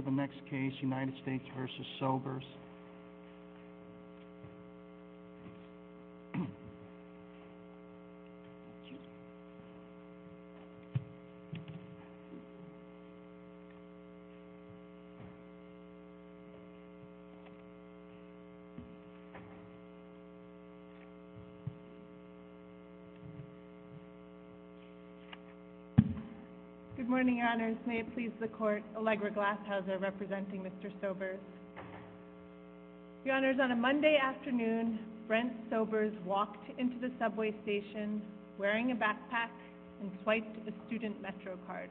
the next case United States v. Sobers. Good morning, Your Honors. May it please the Court, Allegra Glashauser representing Mr. Sobers. Your Honors, on a Monday afternoon, Brent Sobers walked into the subway station wearing a backpack and swiped a student MetroCard.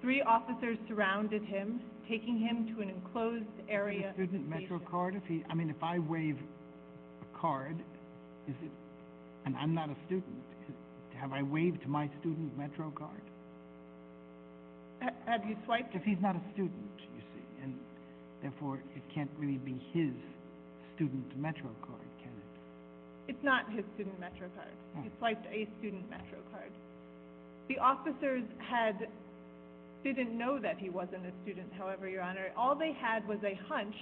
Three officers surrounded him, taking him to an enclosed area of the station. Student MetroCard? I mean, if I wave a card, and I'm not a student, have I waved my student MetroCard? Have you swiped it? If he's not a student, you see, and therefore, it can't really be his student MetroCard, can it? It's not his student MetroCard. He swiped a student MetroCard. The officers didn't know that he wasn't a student, however, Your Honor. All they had was a hunch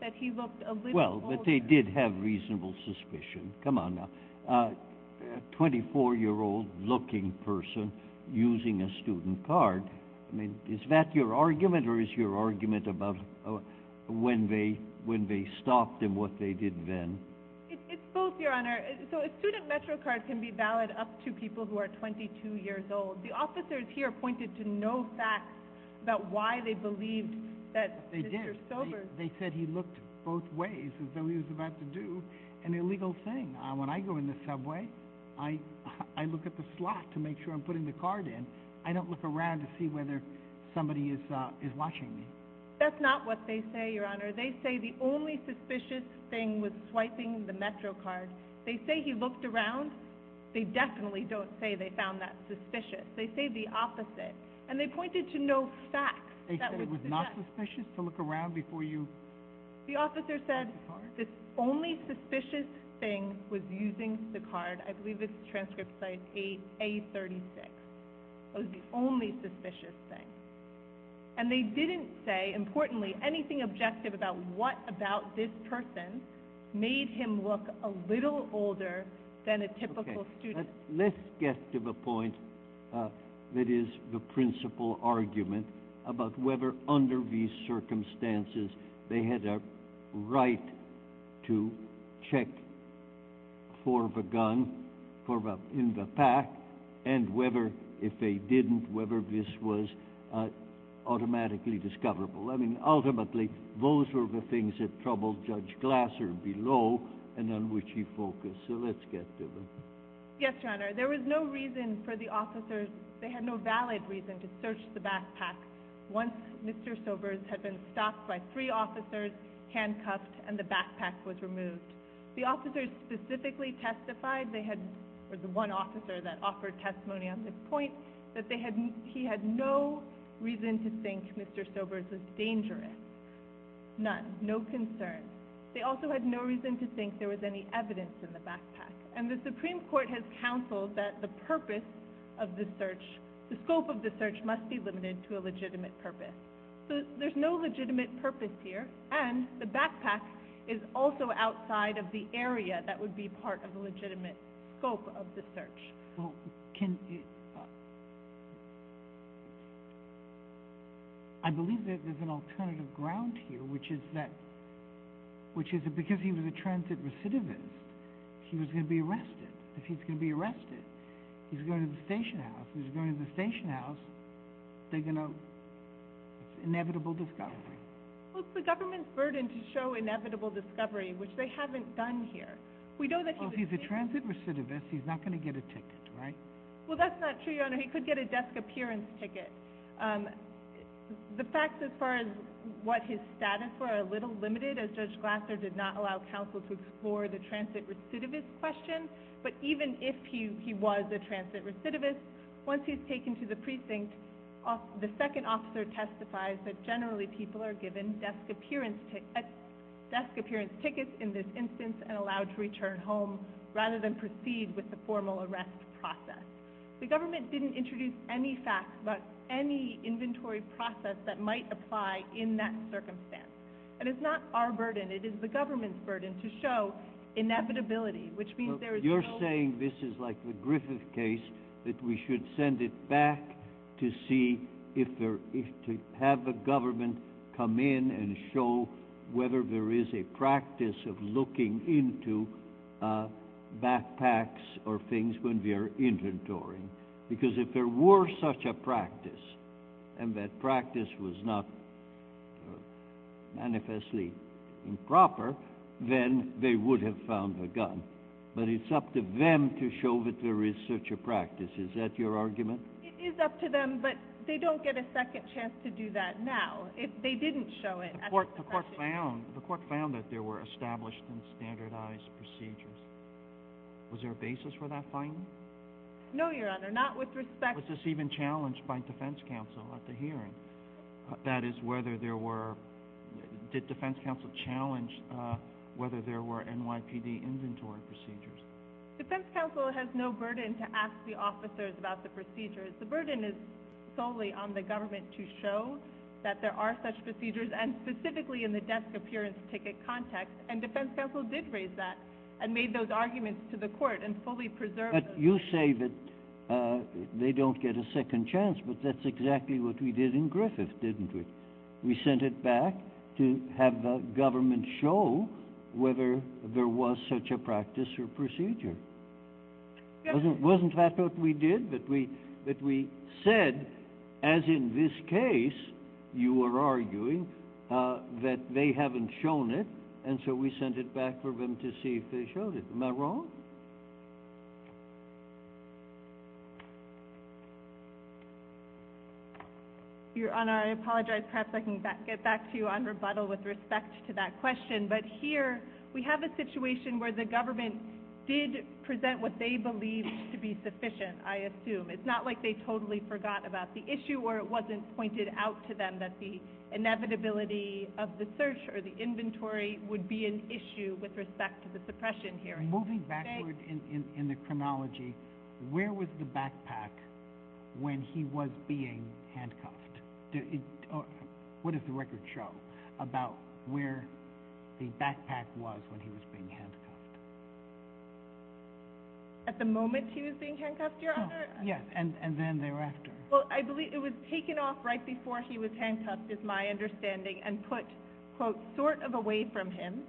that he looked a little older. Well, but they did have reasonable suspicion. Come on now. A 24-year-old-looking person using a student card, I mean, is that your argument or is your argument about when they stopped and what they did then? It's both, Your Honor. So a student MetroCard can be valid up to people who are 22 years old. The officers here pointed to no facts about why they believed that Mr. Sobers... They did. They said he looked both ways as though he was about to do an illegal thing. When I go in the subway, I look at the slot to make sure I'm putting the card in. I don't look around to see whether somebody is watching me. That's not what they say, Your Honor. They say the only suspicious thing was swiping the MetroCard. They say he looked around. They definitely don't say they found that suspicious. They say the opposite, and they pointed to no facts. They said it was not suspicious to look around before you... The officer said the only suspicious thing was using the card. I believe it's transcript size A36. That was the only suspicious thing. And they didn't say, importantly, anything objective about what about this person made him look a little older than a typical student. Let's get to the point that is the principal argument about whether, under these circumstances, they had a right to check for the gun in the pack and whether, if they didn't, whether this was automatically discoverable. I mean, ultimately, those were the things that troubled Judge Glasser below and on which he focused. So let's get to them. Yes, Your Honor. There was no reason for the officers... They had no valid reason to search the backpack once Mr. Sobers had been stopped by three officers, handcuffed, and the backpack was removed. The officers specifically testified, they had... Or the one officer that offered testimony on this point, that they had... He had no reason to think Mr. Sobers was dangerous. None. No concern. They also had no reason to think there was any evidence in the backpack. And the Supreme Court has counseled that the scope of the search must be limited to a legitimate purpose. So there's no legitimate purpose here and the backpack is also outside of the area that would be part of the legitimate scope of the search. I believe that there's an alternative ground here, which is that... Which is that because he was a transit recidivist, he was going to be arrested. If he's going to be arrested, he's going to the station house. If he's going to the station house, they're going to... It's inevitable discovery. Well, it's the government's burden to show inevitable discovery, which they haven't done here. We know that he was... Well, if he's a transit recidivist, he's not going to get a ticket, right? Well, that's not true, Your Honor. He could get a desk appearance ticket. The facts as far as what his status were are a little limited, as Judge Glasser did not allow counsel to explore the transit recidivist question. But even if he was a transit recidivist, once he's taken to the precinct, the second officer testifies that generally people are given desk appearance tickets in this instance and allowed to return home rather than proceed with the formal arrest process. The government didn't introduce any facts about any inventory process that might apply in that circumstance. And it's not our burden. It is the government's burden to show inevitability, which means there is no... You're saying this is like the Griffith case, that we should send it back to see if there... To have the government come in and show whether there is a practice of looking into backpacks or things when we are inventorying. Because if there were such a practice, and that practice was not manifestly improper, then they would have found a gun. But it's up to them to show that there is such a practice. Is that your argument? It is up to them, but they don't get a second chance to do that now. If they didn't show it... The court found that there were established and standardized procedures. Was there a basis for that finding? No, Your Honor, not with respect... Was this even challenged by defense counsel at the hearing? That is, whether there were... Defense counsel has no burden to ask the officers about the procedures. The burden is solely on the government to show that there are such procedures, and specifically in the desk appearance ticket context. And defense counsel did raise that and made those arguments to the court and fully preserved... But you say that they don't get a second chance, but that's exactly what we did in Griffith, didn't we? We sent it back to have the government show whether there was such a practice or procedure. Wasn't that what we did? That we said, as in this case, you are arguing that they haven't shown it, and so we sent it back for them to see if they showed it. Am I wrong? Your Honor, I apologize. Perhaps I can get back to you on rebuttal with respect to that question. But here, we have a situation where the government did present what they believed to be sufficient, I assume. It's not like they totally forgot about the issue or it wasn't pointed out to them that the inevitability of the search or the inventory would be an issue with respect to the suppression hearing. Moving backward in the chronology, where was the backpack when he was being handcuffed? What does the record show about where the backpack was when he was being handcuffed? At the moment he was being handcuffed, Your Honor? Yes, and then thereafter. Well, I believe it was taken off right before he was handcuffed, is my understanding, and put, quote, sort of away from him.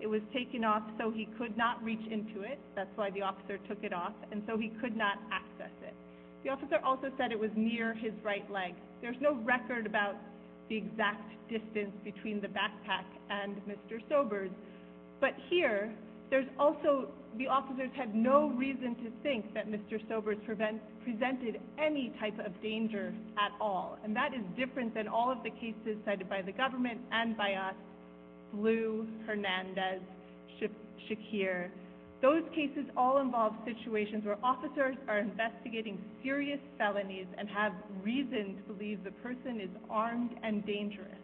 It was taken off so he could not reach into it. That's why the officer took it off, and so he record about the exact distance between the backpack and Mr. Sobers. But here, the officers had no reason to think that Mr. Sobers presented any type of danger at all, and that is different than all of the cases cited by the government and by us, Blue, Hernandez, Shakir. Those cases all involve situations where officers are investigating serious felonies and have reason to believe the person is armed and dangerous.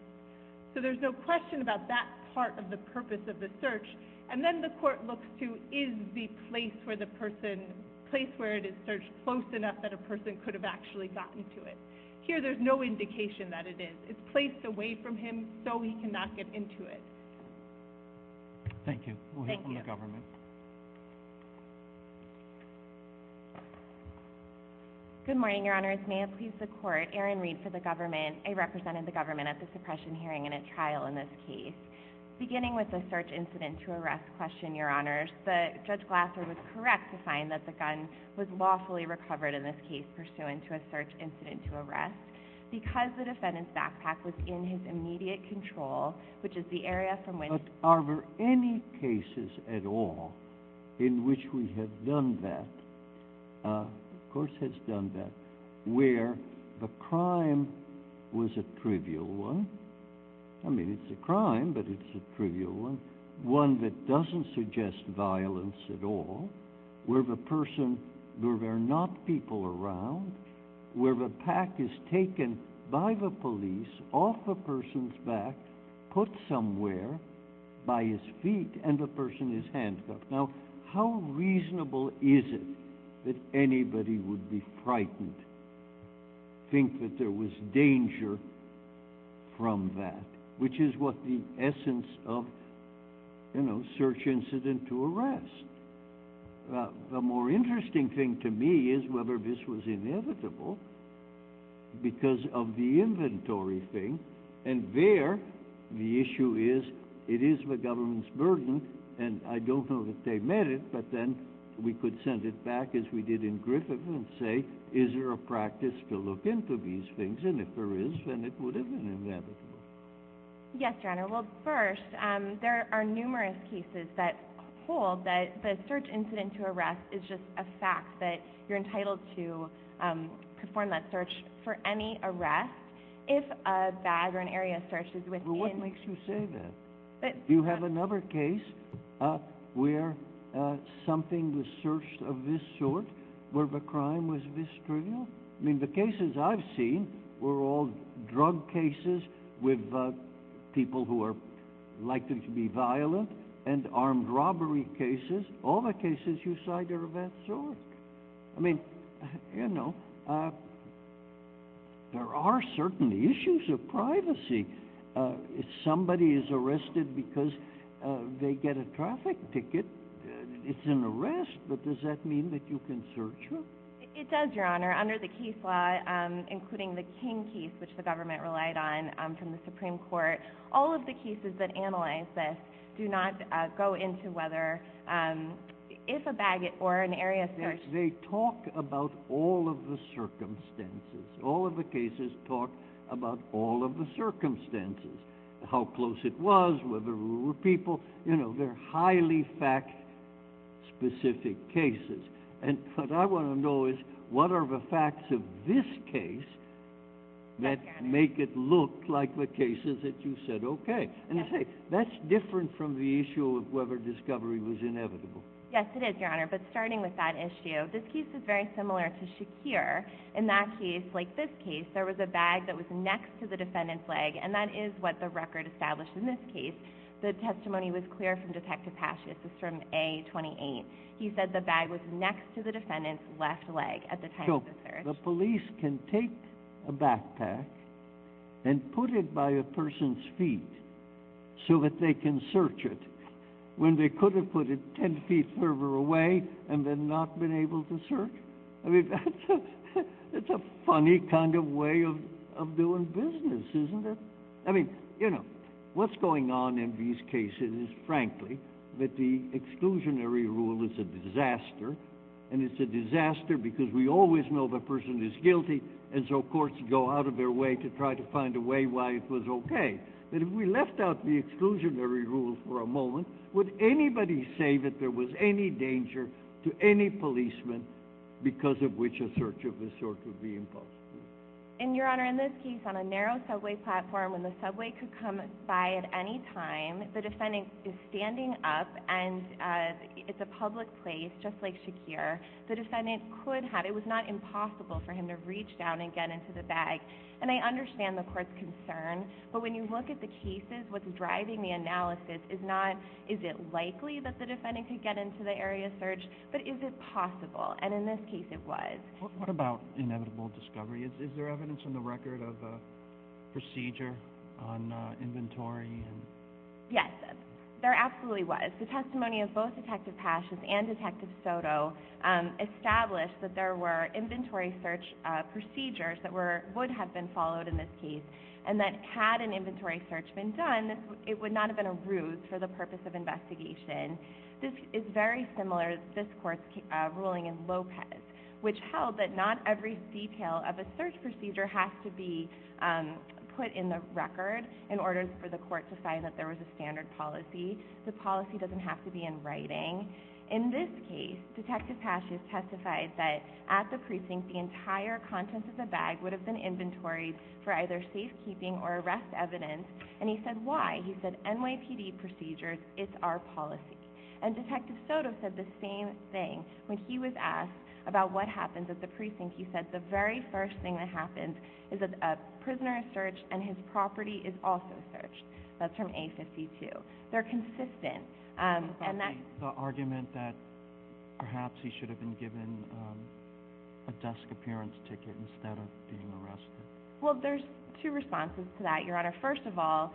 So there's no question about that part of the purpose of the search, and then the court looks to, is the place where the person, place where it is searched close enough that a person could have actually gotten to it? Here, there's no indication that it is. It's placed away from him so he cannot get into it. Thank you. We'll hear from the government. Good morning, Your Honors. May it please the court, Erin Reed for the government. I represented the government at the suppression hearing in a trial in this case. Beginning with the search incident to arrest question, Your Honors, Judge Glasser was correct to find that the gun was lawfully recovered in this case pursuant to a search incident to arrest. Because the defendant's immediate control, which is the area from when... But are there any cases at all in which we have done that, of course has done that, where the crime was a trivial one? I mean, it's a crime, but it's a trivial one. One that doesn't suggest violence at all, where the person, back, put somewhere by his feet, and the person is handcuffed. Now, how reasonable is it that anybody would be frightened, think that there was danger from that? Which is what the essence of, you know, search incident to arrest. The more interesting thing to me is whether this was there. The issue is, it is the government's burden, and I don't know that they met it, but then we could send it back, as we did in Griffith, and say, is there a practice to look into these things? And if there is, then it would have been inevitable. Yes, Your Honor. Well, first, there are numerous cases that hold that the search incident to arrest is just a fact, that you're What makes you say that? You have another case where something was searched of this sort, where the crime was this trivial? I mean, the cases I've seen were all drug cases with people who are likely to be violent, and armed robbery cases. All the cases you cite are of that sort. I mean, you know, there are certain issues of privacy. If somebody is arrested because they get a traffic ticket, it's an arrest, but does that mean that you can search them? It does, Your Honor. Under the case law, including the King case, which the government relied on from the Supreme Court, all of the cases that analyze this do not go into whether, if a bag or an area is searched. They talk about all of the circumstances. All of the cases talk about all of the circumstances, how close it was, whether there were people. You know, they're highly fact-specific cases, and what I want to know is, what are the facts of this case that make it look like the cases that you said, okay? And I say, that's different from the issue of whether discovery was inevitable. Yes, it is, Your Honor, but starting with that issue, this case is very similar to Shakir. In that case, like this case, there was a bag that was next to the defendant's leg, and that is what the record established in this case. The testimony was clear from Detective Pashas. It's from A-28. He said the bag was next to the defendant's left leg at the time of the search. So, the police can take a backpack and put it by a person's feet so that they can search it, when they could have put it 10 feet further away and then not been able to search. I mean, that's a funny kind of way of doing business, isn't it? I mean, you know, what's going on in these cases is, frankly, that the exclusionary rule is a disaster, and it's a disaster because we always know the person is guilty, and so courts go out their way to try to find a way why it was okay. But if we left out the exclusionary rule for a moment, would anybody say that there was any danger to any policeman because of which a search of this sort would be impossible? And, Your Honor, in this case, on a narrow subway platform, when the subway could come by at any time, the defendant is standing up, and it's a public place, just like Shakir. The defendant could have, it was not impossible for him to reach down and get into the bag. And I understand the court's concern, but when you look at the cases, what's driving the analysis is not, is it likely that the defendant could get into the area of search, but is it possible? And in this case, it was. What about inevitable discovery? Is there evidence on the record of a procedure on inventory? Yes, there absolutely was. The testimony of both Detective would have been followed in this case, and that had an inventory search been done, it would not have been a ruse for the purpose of investigation. This is very similar to this court's ruling in Lopez, which held that not every detail of a search procedure has to be put in the record in order for the court to find that there was a standard policy. The policy doesn't have to be in writing. In this case, Detective Pashas testified that at the precinct, the entire contents of the inventory for either safekeeping or arrest evidence. And he said, why? He said, NYPD procedures, it's our policy. And Detective Soto said the same thing when he was asked about what happens at the precinct. He said, the very first thing that happens is that a prisoner is searched and his property is also searched. That's from A52. They're consistent. And that's the argument that perhaps he should have been given a desk appearance ticket instead of being arrested. Well, there's two responses to that, Your Honor. First of all,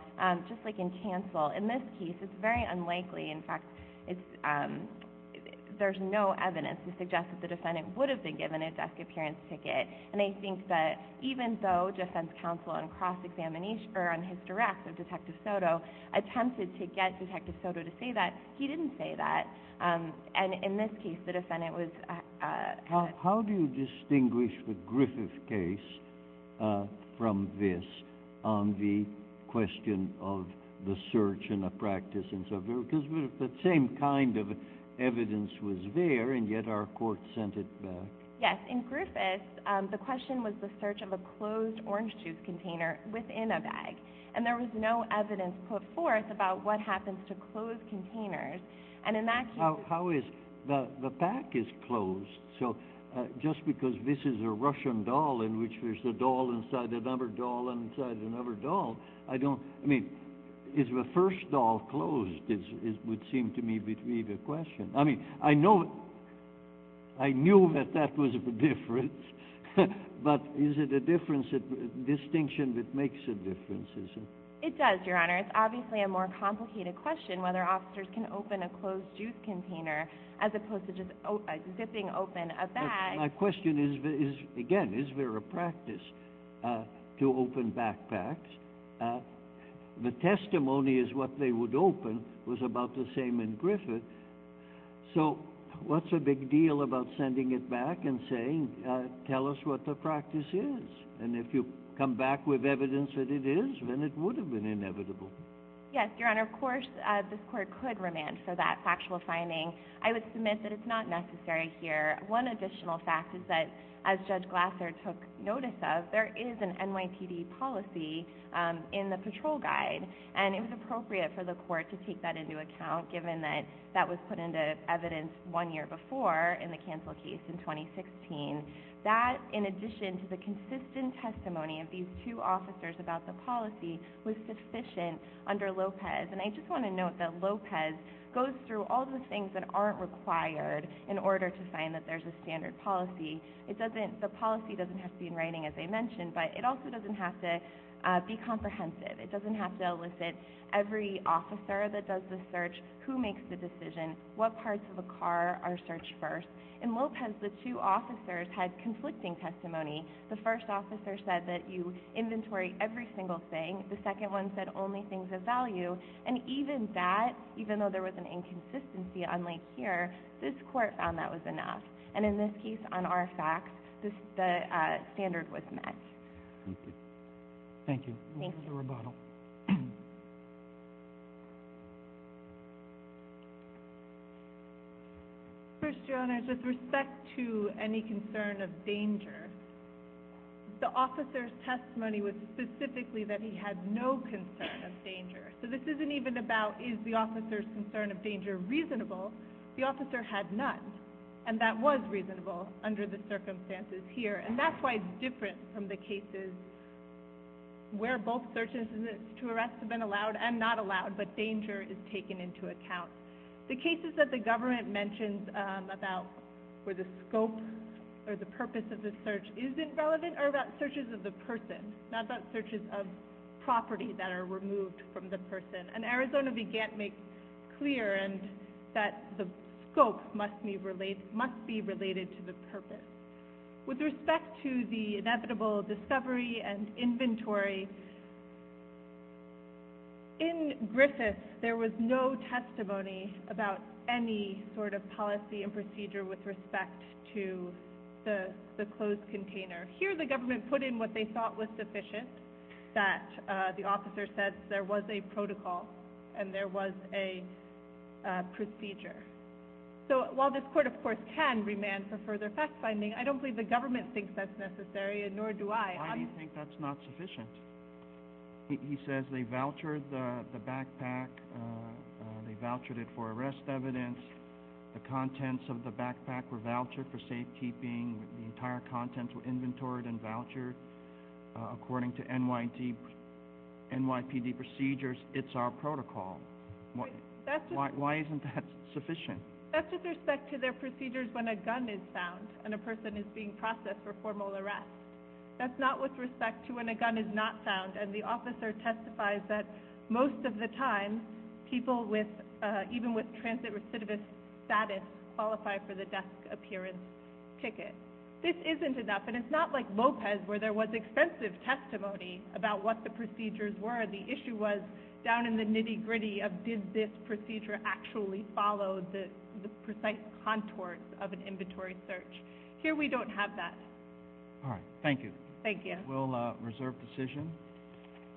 just like in cancel, in this case, it's very unlikely. In fact, there's no evidence to suggest that the defendant would have been given a desk appearance ticket. And I think that even though defense counsel on cross-examination, or on his direct of Detective Soto, attempted to get Detective Soto to say that, he didn't say that. And in this case, the defendant was... How do you distinguish the Griffith case from this on the question of the search and the practice and so forth? Because the same kind of evidence was there, and yet our court sent it back. Yes. In Griffith, the question was the search of a closed orange juice container within a bag. And there was no container. And in that case... How is... The pack is closed. So, just because this is a Russian doll in which there's a doll inside another doll inside another doll, I don't... I mean, is the first doll closed, would seem to me to be the question. I mean, I know... I knew that that was the difference, but is it a difference, a distinction that makes a difference? It does, Your Honor. It's obviously a more complicated question whether officers can open a closed juice container, as opposed to just zipping open a bag. My question is, again, is there a practice to open backpacks? The testimony is what they would open was about the same in Griffith. So, what's the big deal about sending it back and saying, tell us what the practice is? And if you come back with evidence that it is, then it would have been inevitable. Yes, Your Honor. Of course, this court could remand for that factual finding. I would submit that it's not necessary here. One additional fact is that, as Judge Glasser took notice of, there is an NYPD policy in the patrol guide. And it was appropriate for the court to take that into account, given that that was put into evidence one year before in the cancel case in 2016. That, in addition to the consistent testimony of these two officers about the policy, was sufficient under Lopez. And I just want to note that Lopez goes through all the things that aren't required in order to find that there's a standard policy. The policy doesn't have to be in writing, as I mentioned, but it also doesn't have to be comprehensive. It doesn't have to elicit every officer that does the search, who makes the decision, what parts of a car are searched first. In Lopez, the two officers had conflicting testimony. The first officer said that you inventory every single thing. The second one said only things of value. And even that, even though there was an inconsistency, unlike here, this court found that was enough. And in this case, on RFX, the standard was met. Thank you. Thank you. This is a rebuttal. First, Your Honors, with respect to any concern of danger, the officer's testimony was specifically that he had no concern of danger. So this isn't even about, is the officer's concern of danger reasonable? The officer had none. And that was reasonable under the circumstances here. And that's why it's different from the cases where both search instances to arrest have been allowed and not allowed, but danger is taken into account. The cases that the government mentions about where the scope or the purpose of the search isn't relevant are about searches of the person, not about searches of property that are removed from the person. And Arizona began to make clear that the scope must be related to the purpose. With respect to the inevitable discovery and inventory, in Griffith, there was no testimony about any sort of policy and procedure with respect to the closed container. Here, the government put in what they thought was sufficient, that the officer said there was a protocol and there was a procedure. So while this court, of course, can remand for further fact-finding, I don't believe the government thinks that's necessary, and nor do I. Why do you think that's not sufficient? He says they vouchered the backpack, they vouchered it for arrest evidence, the contents of the backpack were vouchered for NYPD procedures, it's our protocol. Why isn't that sufficient? That's with respect to their procedures when a gun is found and a person is being processed for formal arrest. That's not with respect to when a gun is not found, and the officer testifies that most of the time, people even with transit recidivist status qualify for the desk appearance ticket. This isn't enough, and it's not like Lopez where there was extensive testimony about what the procedures were. The issue was down in the nitty-gritty of did this procedure actually follow the precise contours of an inventory search. Here, we don't have that. All right, thank you. Thank you. We'll reserve decision.